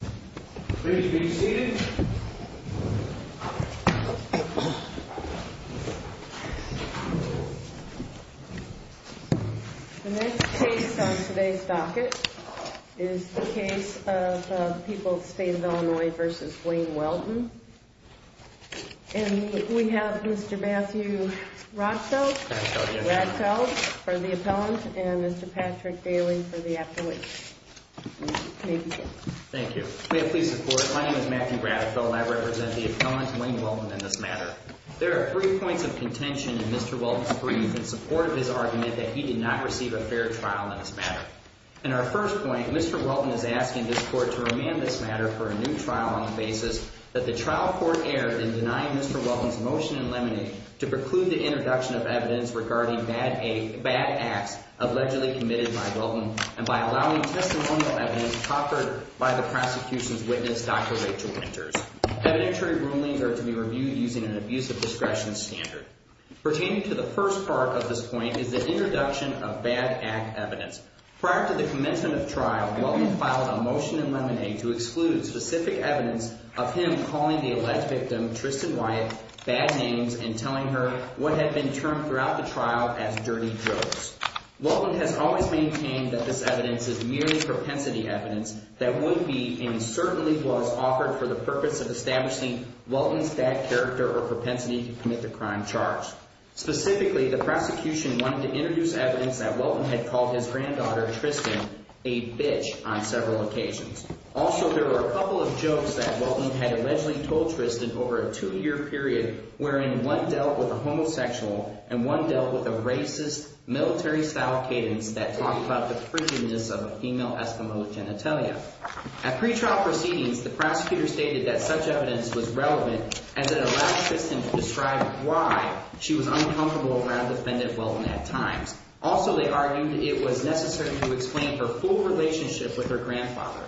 The next case on today's docket is the case of People's State of Illinois v. Wayne Welton. And we have Mr. Matthew Radfeld for the appellant and Mr. Patrick Daly for the affiliate. Thank you. May I please support? My name is Matthew Radfeld. I represent the appellant, Wayne Welton, in this matter. There are three points of contention in Mr. Welton's brief in support of his argument that he did not receive a fair trial in this matter. In our first point, Mr. Welton is asking this court to remand this matter for a new trial on the basis that the trial court erred in denying Mr. Welton's motion in limine to preclude the introduction of evidence regarding bad acts allegedly committed by Welton and by allowing testimonial evidence covered by the prosecution's witness, Dr. Rachel Winters. Evidentiary rulings are to be reviewed using an abuse of discretion standard. Pertaining to the first part of this point is the introduction of bad act evidence. Prior to the commencement of trial, Welton filed a motion in limine to exclude specific evidence of him calling the alleged victim, Tristan Wyatt, bad names and telling her what had been termed throughout the trial as dirty jokes. Welton has always maintained that this evidence is merely propensity evidence that would be and certainly was offered for the purpose of establishing Welton's bad character or propensity to commit the crime charged. Specifically, the prosecution wanted to introduce evidence that Welton had called his granddaughter, Tristan, a bitch on several occasions. Also, there were a couple of jokes that Welton had allegedly told Tristan over a two-year period wherein one dealt with a homosexual and one dealt with a racist, military-style cadence that talked about the prettiness of a female Eskimo genitalia. At pretrial proceedings, the prosecutor stated that such evidence was relevant and that it allowed Tristan to describe why she was uncomfortable around defendant Welton at times. Also, they argued it was necessary to explain her full relationship with her grandfather.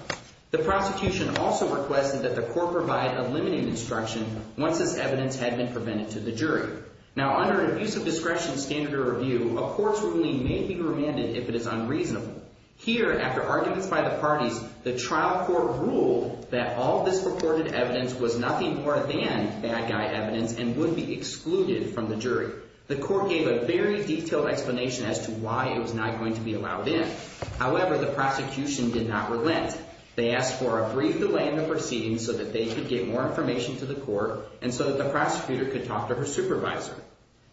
The prosecution also requested that the court provide a limiting instruction once this evidence had been prevented to the jury. Now, under an abuse of discretion standard of review, a court's ruling may be remanded if it is unreasonable. Here, after arguments by the parties, the trial court ruled that all this reported evidence was nothing more than bad guy evidence and would be excluded from the jury. The court gave a very detailed explanation as to why it was not going to be allowed in. However, the prosecution did not relent. They asked for a brief delay in the proceedings so that they could get more information to the court and so that the prosecutor could talk to her supervisor.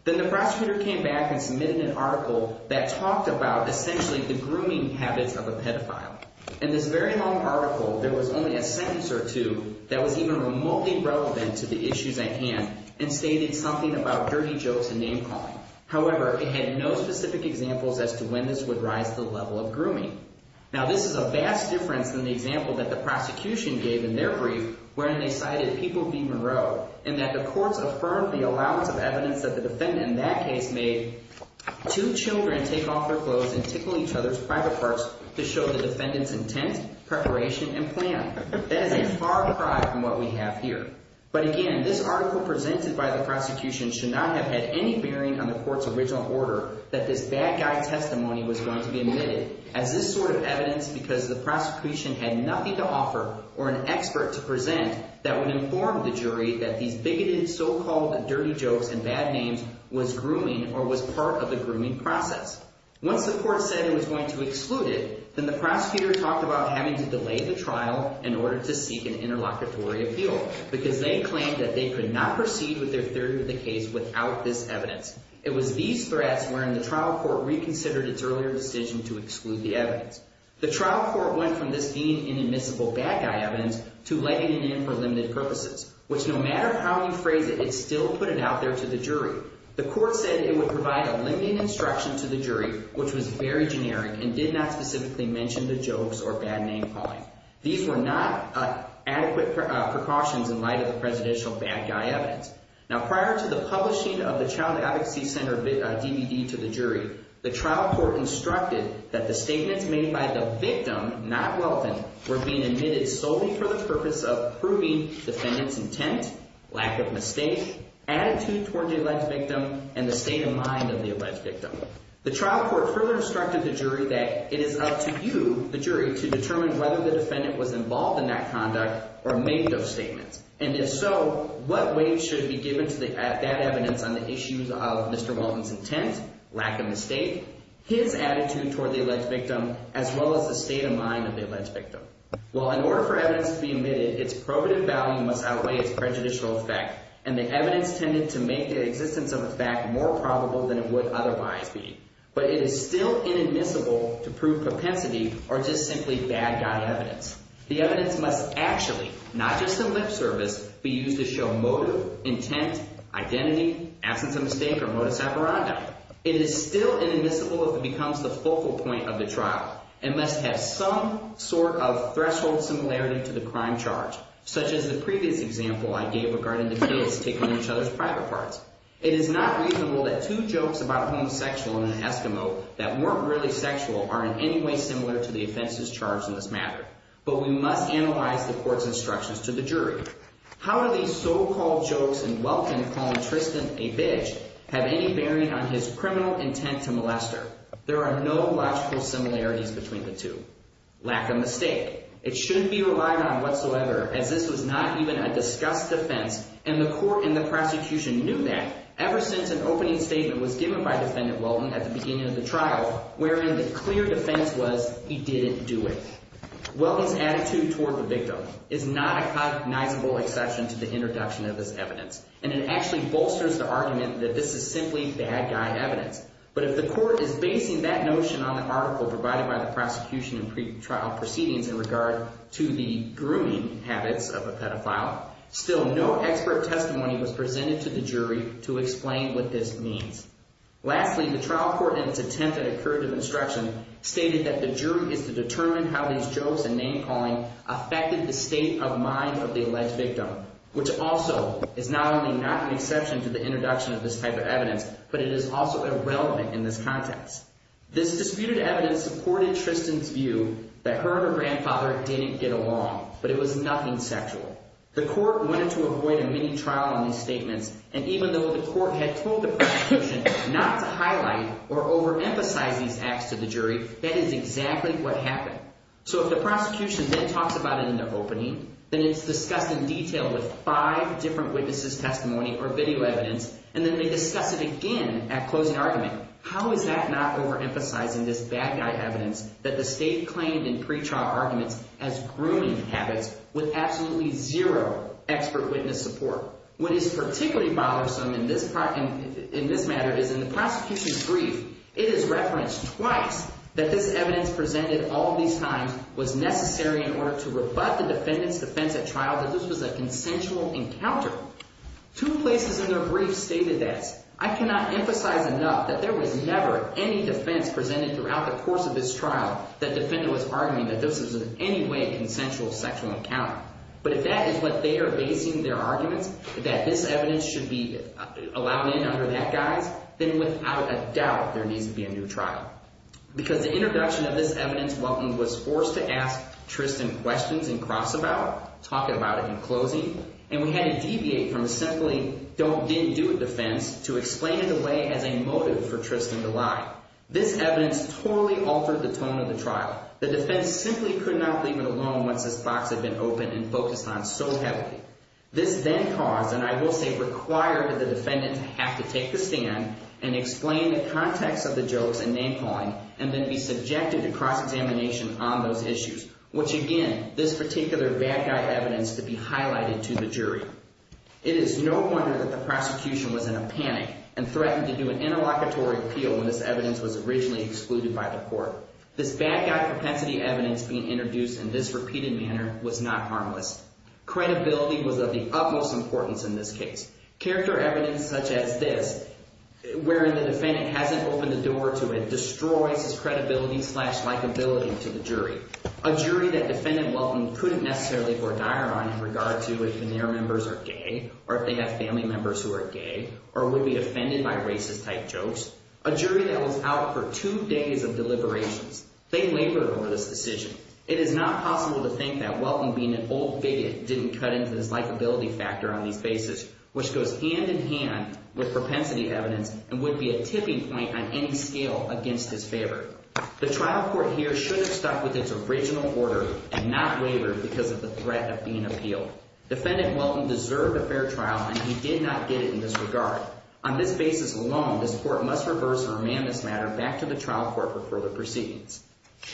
Then the prosecutor came back and submitted an article that talked about essentially the grooming habits of a pedophile. In this very long article, there was only a sentence or two that was even remotely relevant to the issues at hand and stated something about dirty jokes and name-calling. However, it had no specific examples as to when this would rise to the level of grooming. Now, this is a vast difference than the example that the prosecution gave in their brief where they cited people being marauded and that the courts affirmed the allowance of evidence that the defendant in that case made two children take off their clothes and tickle each other's private parts to show the defendant's intent, preparation, and plan. That is a far cry from what we have here. But again, this article presented by the prosecution should not have had any bearing on the court's original order that this bad guy testimony was going to be admitted as this sort of evidence because the prosecution had nothing to offer or an expert to present that would inform the jury that these bigoted so-called dirty jokes and bad names was grooming or was part of the grooming process. Once the court said it was going to exclude it, then the prosecutor talked about having to delay the trial in order to seek an interlocutory appeal because they claimed that they could not proceed with their theory of the case without this evidence. It was these threats wherein the trial court reconsidered its earlier decision to exclude the evidence. The trial court went from this being inadmissible bad guy evidence to letting it in for limited purposes, which no matter how you phrase it, it still put it out there to the jury. The court said it would provide a limited instruction to the jury, which was very generic and did not specifically mention the jokes or bad name calling. These were not adequate precautions in light of the presidential bad guy evidence. Now, prior to the publishing of the Child Advocacy Center DVD to the jury, the trial court instructed that the statements made by the victim, not Welton, were being admitted solely for the purpose of proving defendant's intent, lack of mistake, attitude toward the alleged victim, and the state of mind of the alleged victim. The trial court further instructed the jury that it is up to you, the jury, to determine whether the defendant was involved in that conduct or made those statements. And if so, what weight should be given to that evidence on the issues of Mr. Walton's intent, lack of mistake, his attitude toward the alleged victim, as well as the state of mind of the alleged victim? Well, in order for evidence to be admitted, its probative value must outweigh its prejudicial effect, and the evidence tended to make the existence of a fact more probable than it would otherwise be. But it is still inadmissible to prove propensity or just simply bad guy evidence. The evidence must actually, not just in lip service, be used to show motive, intent, identity, absence of mistake, or modus operandi. It is still inadmissible if it becomes the focal point of the trial and must have some sort of threshold similarity to the crime charge, such as the previous example I gave regarding the kids taking each other's private parts. It is not reasonable that two jokes about homosexual in an eskimo that weren't really sexual are in any way similar to the offenses charged in this matter. But we must analyze the court's instructions to the jury. How do these so-called jokes in Walton calling Tristan a bitch have any bearing on his criminal intent to molester? There are no logical similarities between the two. Lack of mistake. It shouldn't be relied on whatsoever, as this was not even a discussed defense, and the court and the prosecution knew that ever since an opening statement was given by Defendant Walton at the beginning of the trial, wherein the clear defense was he didn't do it. Walton's attitude toward the victim is not a cognizable exception to the introduction of this evidence, and it actually bolsters the argument that this is simply bad guy evidence. But if the court is basing that notion on the article provided by the prosecution in pretrial proceedings in regard to the grooming habits of a pedophile, still no expert testimony was presented to the jury to explain what this means. Lastly, the trial court in its attempt at a curative instruction stated that the jury is to determine how these jokes and name-calling affected the state of mind of the alleged victim, which also is not only not an exception to the introduction of this type of evidence, but it is also irrelevant in this context. This disputed evidence supported Tristan's view that her and her grandfather didn't get along, but it was nothing sexual. The court wanted to avoid a mini-trial on these statements, and even though the court had told the prosecution not to highlight or overemphasize these acts to the jury, that is exactly what happened. So if the prosecution then talks about it in their opening, then it's discussed in detail with five different witnesses' testimony or video evidence, and then they discuss it again at closing argument. How is that not overemphasizing this bad guy evidence that the state claimed in pretrial arguments as grooming habits with absolutely zero expert witness support? What is particularly bothersome in this matter is in the prosecution's brief, it is referenced twice that this evidence presented all of these times was necessary in order to rebut the defendant's defense at trial that this was a consensual encounter. Two places in their brief stated this. I cannot emphasize enough that there was never any defense presented throughout the course of this trial that defendant was arguing that this was in any way a consensual sexual encounter. But if that is what they are basing their arguments, that this evidence should be allowed in under that guise, then without a doubt there needs to be a new trial. Because the introduction of this evidence was forced to ask Tristan questions in cross-about, talking about it in closing, and we had to deviate from a simply didn't do it defense to explain it away as a motive for Tristan to lie. This evidence totally altered the tone of the trial. The defense simply could not leave it alone once this box had been opened and focused on so heavily. This then caused, and I will say required, the defendant to have to take the stand and explain the context of the jokes and name-calling and then be subjected to cross-examination on those issues, which again, this particular bad guy evidence to be highlighted to the jury. It is no wonder that the prosecution was in a panic and threatened to do an interlocutory appeal when this evidence was originally excluded by the court. This bad guy propensity evidence being introduced in this repeated manner was not harmless. Credibility was of the utmost importance in this case. Character evidence such as this, wherein the defendant hasn't opened the door to it, destroys his credibility-slash-likability to the jury. A jury that defendant Welton couldn't necessarily go dire on in regard to if the near members are gay or if they have family members who are gay or would be offended by racist-type jokes. A jury that was out for two days of deliberations. They labored over this decision. It is not possible to think that Welton, being an old bigot, didn't cut into this likability factor on this basis, which goes hand-in-hand with propensity evidence and would be a tipping point on any scale against his favor. The trial court here should have stuck with its original order and not labored because of the threat of being appealed. Defendant Welton deserved a fair trial, and he did not get it in this regard. On this basis alone, this court must reverse and remand this matter back to the trial court for further proceedings.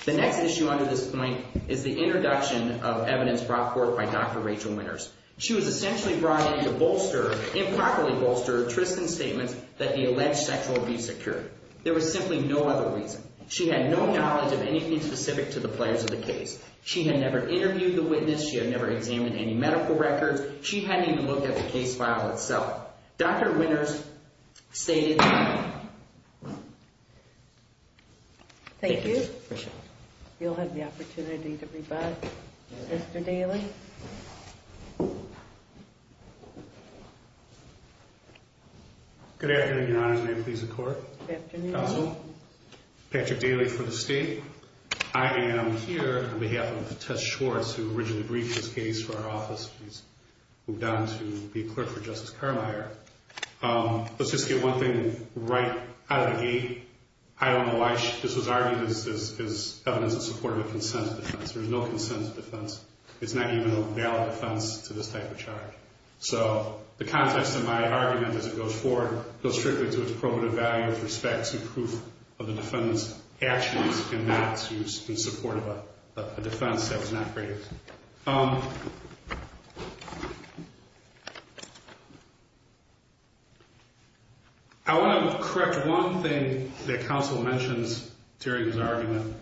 The next issue under this point is the introduction of evidence brought forth by Dr. Rachel Winters. She was essentially brought in to bolster, improperly bolster, Tristan's statements that the alleged sexual abuse occurred. There was simply no other reason. She had no knowledge of anything specific to the players of the case. She had never interviewed the witness. She had never examined any medical records. She hadn't even looked at the case file itself. Dr. Winters stated... Thank you. You'll have the opportunity to rebut. Mr. Daly. Good afternoon, Your Honor. May it please the Court. Good afternoon. Counsel. Patrick Daly for the State. I am here on behalf of Tess Schwartz, who originally briefed this case for our office. She's moved on to be a clerk for Justice Carmeier. Let's just get one thing right out of the gate. I don't know why this was argued as evidence in support of a consent defense. There's no consent defense. It's not even a valid defense to this type of charge. So the context of my argument, as it goes forward, goes strictly to its probative value with respect to proof of the defendant's actions and not to use in support of a defense that was not raised. I want to correct one thing that counsel mentions during his argument,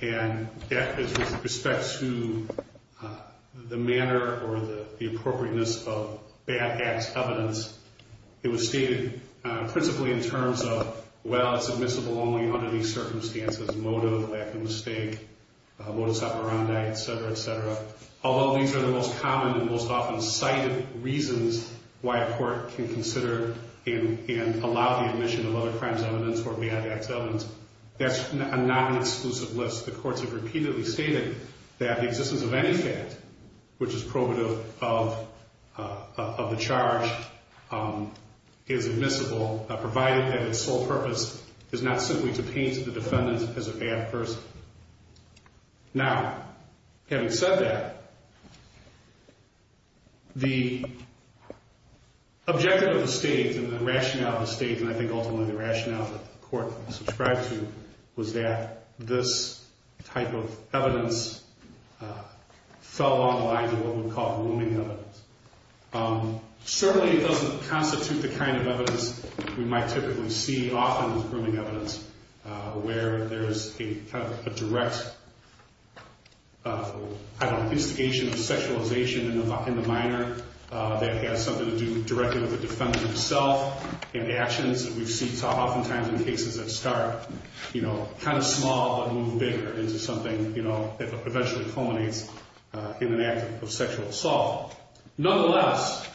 and that is with respect to the manner or the appropriateness of bad acts evidence. It was stated principally in terms of, well, it's admissible only under these circumstances, motive, lack of mistake, modus operandi, et cetera, et cetera. Although these are the most common and most often cited reasons why a court can consider and allow the admission of other crimes evidence or bad acts evidence, that's not an exclusive list. The courts have repeatedly stated that the existence of any fact, which is probative of the charge, is admissible, provided that its sole purpose is not simply to paint the defendant as a bad person. Now, having said that, I think ultimately the rationale that the court subscribes to was that this type of evidence fell along the lines of what we call grooming evidence. Certainly it doesn't constitute the kind of evidence we might typically see, often with grooming evidence, where there's a direct investigation of sexualization in the minor that has something to do directly with the defendant himself and actions that we see oftentimes in cases that start kind of small but move bigger into something that eventually culminates in an act of sexual assault. Nonetheless,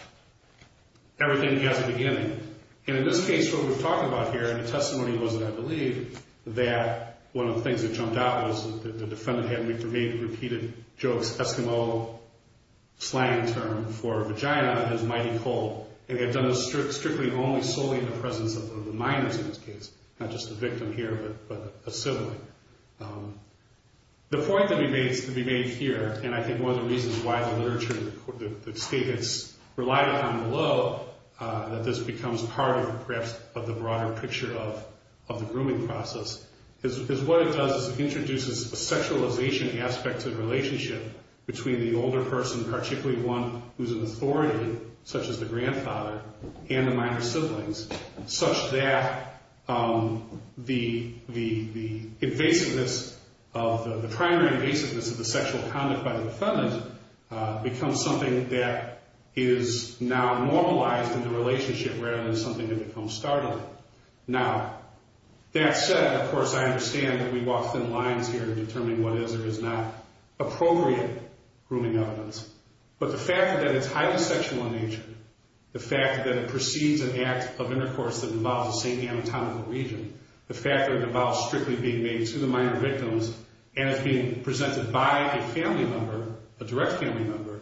everything has a beginning. In this case, what we're talking about here, and the testimony was that I believe that one of the things that jumped out was that the defendant had made repeated jokes, Eskimo slang term for vagina is mighty cold, and they had done this strictly only solely in the presence of the minors in this case, not just the victim here, but a sibling. The point that we made here, and I think one of the reasons why the literature, the statements relied upon below, that this becomes part of perhaps the broader picture of the grooming process, is what it does is it introduces a sexualization aspect to the relationship between the older person, particularly one who's an authority, such as the grandfather, and the minor siblings, such that the invasiveness, the primary invasiveness of the sexual conduct by the defendant becomes something that is now normalized in the relationship rather than something that becomes startling. Now, that said, of course, I understand that we walk thin lines here in determining what is or is not appropriate grooming evidence, but the fact that it's highly sexual in nature, the fact that it precedes an act of intercourse that involves the same anatomical region, the fact that it involves strictly being made to the minor victims and is being presented by a family member, a direct family member,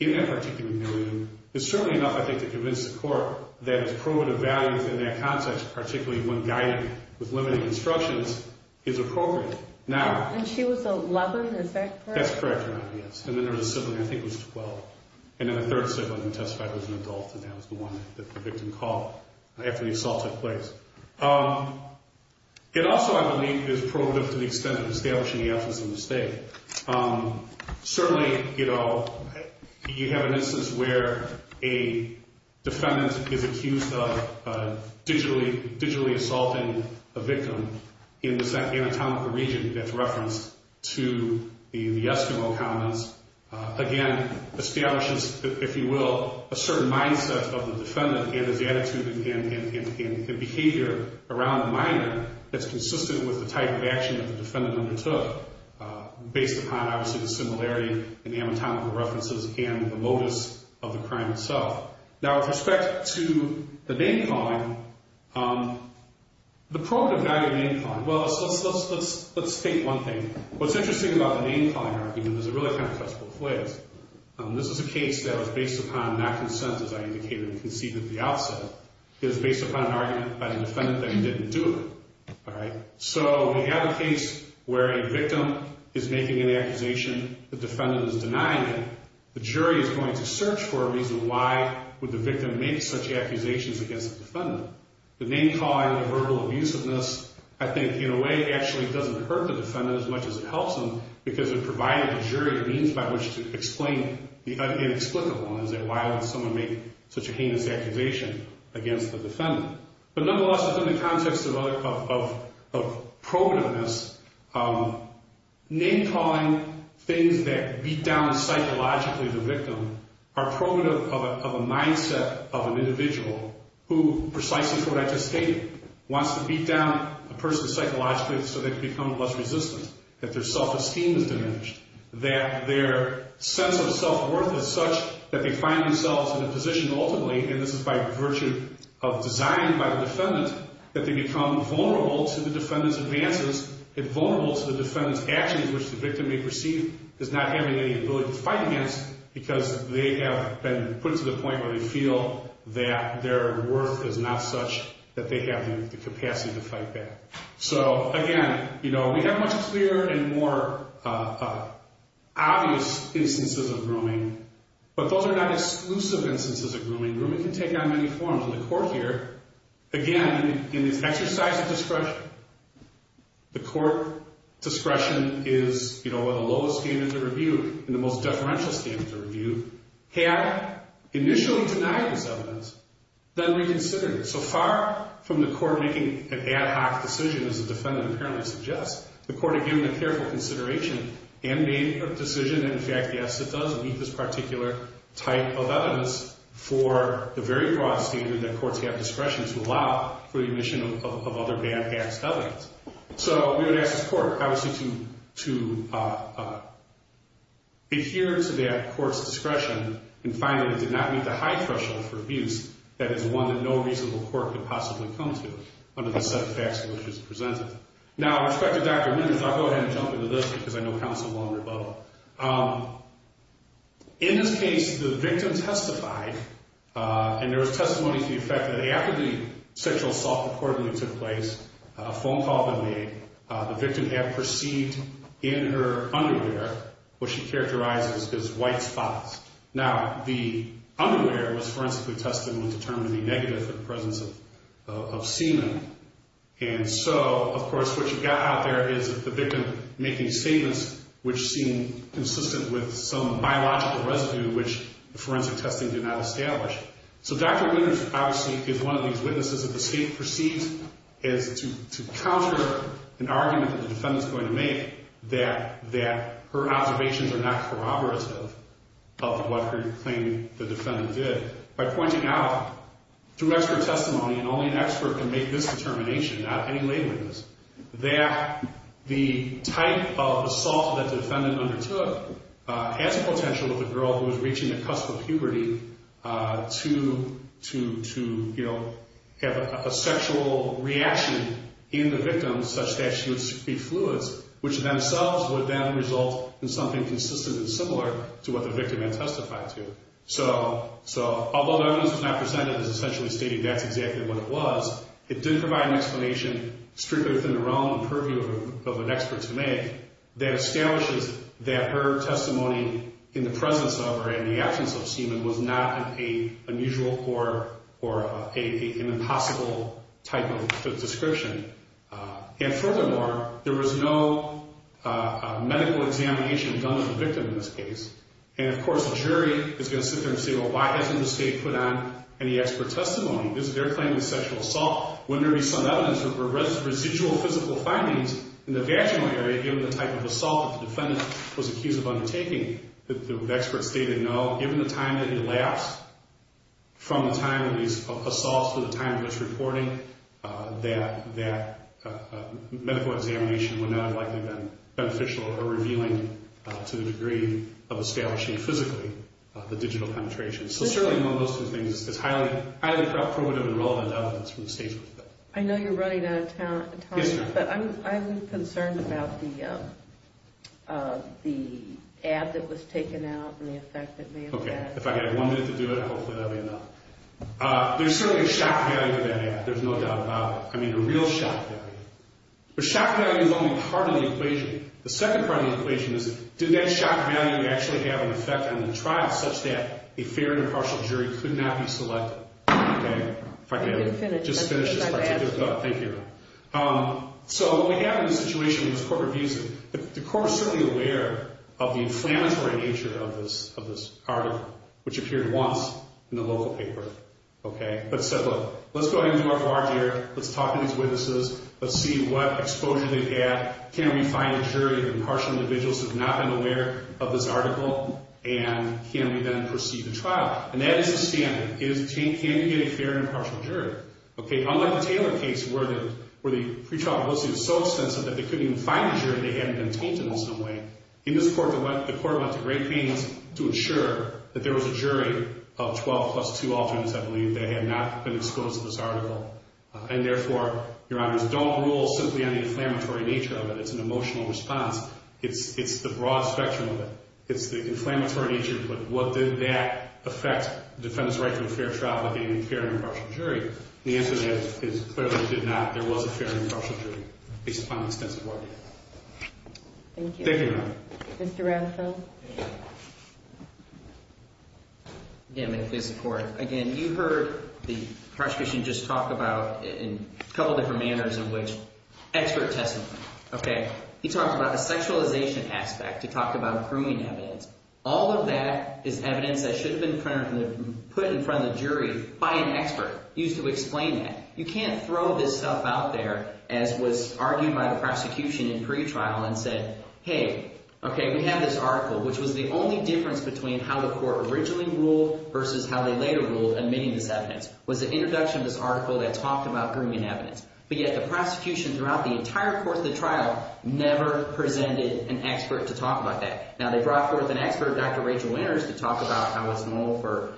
in that particular region, is certainly enough, I think, to convince the court that its prerogative values in that context, particularly when guided with limited instructions, is appropriate. Now... And she was a lover, is that correct? That's correct, Your Honor, yes. And then there was a sibling, I think it was 12, and then a third sibling who testified was an adult and that was the one that the victim called after the assault took place. It also, I believe, is prerogative to the extent of establishing the absence of mistake. Certainly, you know, you have an instance where a defendant is accused of digitally assaulting a victim in this anatomical region that's referenced to the Eskimo commons. Again, establishes, if you will, a certain mindset of the defendant and his attitude and behavior around the minor that's consistent with the type of action that the defendant undertook. Based upon, obviously, the similarity in the anatomical references and the modus of the crime itself. Now, with respect to the name-calling, the prerogative value of name-calling, well, let's state one thing. What's interesting about the name-calling argument is it really kind of cuts both ways. This is a case that was based upon not consensus, I indicated and conceded at the outset. It was based upon an argument by the defendant that he didn't do it, all right? So we have a case where a victim is making an accusation, the defendant is denying it. The jury is going to search for a reason why would the victim make such accusations against the defendant. The name-calling, the verbal abusiveness, I think, in a way, actually doesn't hurt the defendant as much as it helps him because it provided the jury a means by which to explain the inexplicable. Why would someone make such a heinous accusation against the defendant? But nonetheless, within the context of prerogativeness, name-calling things that beat down psychologically the victim are prerogative of a mindset of an individual who, precisely for what I just stated, wants to beat down a person psychologically so they can become less resistant, that their self-esteem is diminished, that their sense of self-worth is such that they find themselves in a position, ultimately, and this is by virtue of design by the defendant, that they become vulnerable to the defendant's advances and vulnerable to the defendant's actions, which the victim may perceive as not having any ability to fight against because they have been put to the point where they feel that their worth is not such that they have the capacity to fight back. But those are not exclusive instances of grooming. Grooming can take on many forms. And the court here, again, in this exercise of discretion, the court discretion is, you know, one of the lowest standards of review and the most deferential standards of review, had initially denied this evidence, then reconsidered it. So far from the court making an ad hoc decision, as the defendant apparently suggests, the court had given a careful consideration and made a decision, and in fact, yes, it does meet this particular type of evidence for the very broad standard that courts have discretion to allow for the admission of other bad past evidence. So we would ask this court, obviously, to adhere to that court's discretion and find that it did not meet the high threshold for abuse that is one that no reasonable court could possibly come to under the set of facts in which it was presented. Now, with respect to Dr. Mimms, I'll go ahead and jump into this because I know counsel won't rebuttal. In this case, the victim testified, and there was testimony to the effect that after the sexual assault reportedly took place, a phone call had been made. The victim had perceived in her underwear what she characterized as white spots. Now, the underwear was forensically tested and would determine the negative for the presence of semen. And so, of course, what you've got out there is the victim making statements which seem consistent with some biological residue which the forensic testing did not establish. So Dr. Mimms, obviously, is one of these witnesses that the state perceives as to counter an argument that the defendant is going to make that her observations are not corroborative of what her claim the defendant did. By pointing out, through expert testimony, and only an expert can make this determination, not any lay witness, that the type of assault that the defendant undertook has a potential with a girl who is reaching the cusp of puberty to have a sexual reaction in the victim such that she would speak fluids, which themselves would then result in something consistent and similar to what the victim had testified to. So although the evidence was not presented as essentially stating that's exactly what it was, it did provide an explanation strictly within the realm and purview of an expert to make that establishes that her testimony in the presence of or in the absence of semen was not an unusual or an impossible type of description. And furthermore, there was no medical examination done of the victim in this case. And, of course, the jury is going to sit there and say, well, why hasn't the state put on any expert testimony? Is there a claim of sexual assault? Wouldn't there be some evidence of residual physical findings in the vaginal area given the type of assault that the defendant was accused of undertaking? The expert stated no. Given the time that elapsed from the time of these assaults to the time of this reporting, that medical examination would not have likely been beneficial or revealing to the degree of establishing physically the digital penetration. So certainly one of those two things is highly probative and relevant evidence from the state's perspective. I know you're running out of time. Yes, ma'am. But I'm concerned about the ad that was taken out and the effect it may have had. Okay. If I had one minute to do it, hopefully that would be enough. There's certainly a shock value to that ad. There's no doubt about it. The shock value is only part of the equation. The second part of the equation is did that shock value actually have an effect on the trial such that a fair and impartial jury could not be selected? Okay. If I can just finish this part. Thank you. So what we have in this situation with this court reviews, the court is certainly aware of the inflammatory nature of this article, which appeared once in the local paper, okay, but said, look, let's go ahead and do our bar here. Let's talk to these witnesses. Let's see what exposure they've had. Can we find a jury of impartial individuals who have not been aware of this article? And can we then proceed to trial? And that is the standard. Can we get a fair and impartial jury? Okay. Unlike the Taylor case where the pretrial publicity was so extensive that they couldn't even find a jury, they hadn't been tainted in some way. In this court, the court went to great pains to ensure that there was a jury of 12 plus 2 alternates, I believe, that had not been exposed to this article. And therefore, Your Honors, don't rule simply on the inflammatory nature of it. It's an emotional response. It's the broad spectrum of it. It's the inflammatory nature of it. But what did that affect defendants' right to a fair trial by getting a fair and impartial jury? And the answer to that is, clearly, it did not. There was a fair and impartial jury based upon the extensive article. Thank you. Thank you, Your Honor. Mr. Radcliffe. Again, thank you, Mr. Court. Again, you heard the prosecution just talk about in a couple different manners in which expert testimony. Okay. He talked about a sexualization aspect. He talked about accruing evidence. All of that is evidence that should have been put in front of the jury by an expert used to explain that. You can't throw this stuff out there as was argued by the prosecution in pretrial and said, hey, okay, we have this article, which was the only difference between how the court originally ruled versus how they later ruled admitting this evidence, was the introduction of this article that talked about accruing evidence. But yet the prosecution throughout the entire course of the trial never presented an expert to talk about that. Now, they brought forth an expert, Dr. Rachel Winters, to talk about how it's normal for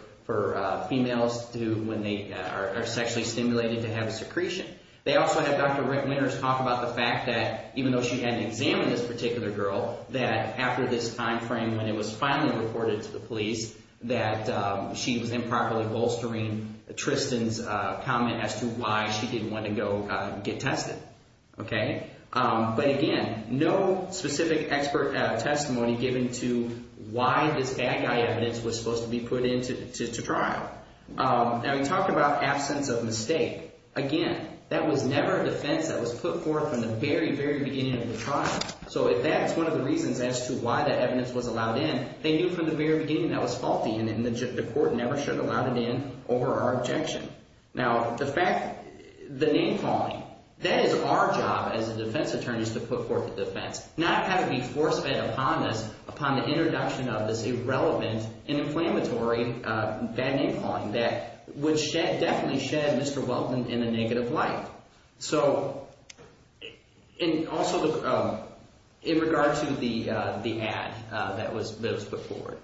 females when they are sexually stimulated to have a secretion. They also had Dr. Winters talk about the fact that even though she hadn't examined this particular girl, that after this time frame when it was finally reported to the police, that she was improperly bolstering Tristan's comment as to why she didn't want to go get tested. Okay. But again, no specific expert testimony given to why this bad guy evidence was supposed to be put into trial. Now, he talked about absence of mistake. Again, that was never a defense that was put forth from the very, very beginning of the trial. So if that's one of the reasons as to why that evidence was allowed in, they knew from the very beginning that was faulty and the court never should have allowed it in over our objection. Now, the fact – the name-calling, that is our job as the defense attorneys to put forth a defense, not have it be force-fed upon us upon the introduction of this irrelevant and inflammatory bad name-calling that would shed – definitely shed Mr. Welton in a negative light. So – and also in regard to the ad that was put forward,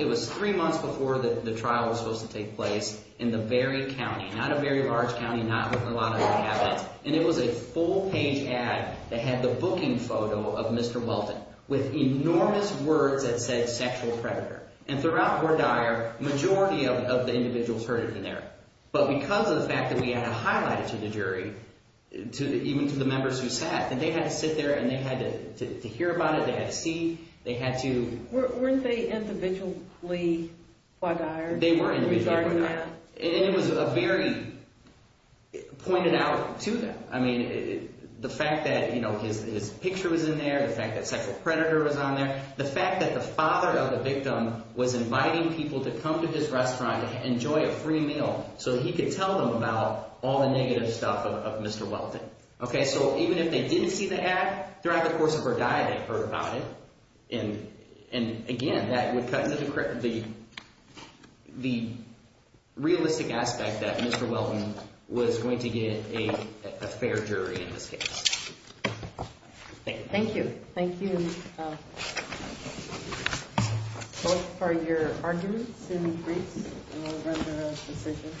it was three months before the trial was supposed to take place in the very county, not a very large county, not with a lot of cabinets. And it was a full-page ad that had the booking photo of Mr. Welton with enormous words that said sexual predator. And throughout Hoar Dyer, majority of the individuals heard it in there. But because of the fact that we had to highlight it to the jury, even to the members who sat, that they had to sit there and they had to hear about it. They had to see. They had to – Weren't they individually Hoar Dyer? They were individually Hoar Dyer. Regarding that. And it was a very – pointed out to them. I mean, the fact that his picture was in there, the fact that sexual predator was on there, the fact that the father of the victim was inviting people to come to this restaurant and enjoy a free meal so he could tell them about all the negative stuff of Mr. Welton. So even if they didn't see the ad, throughout the course of Hoar Dyer they heard about it. And again, that would cut into the realistic aspect that Mr. Welton was going to get a fair jury in this case. Thank you. Thank you. Thank you both for your arguments and briefs. And we'll run to a decision.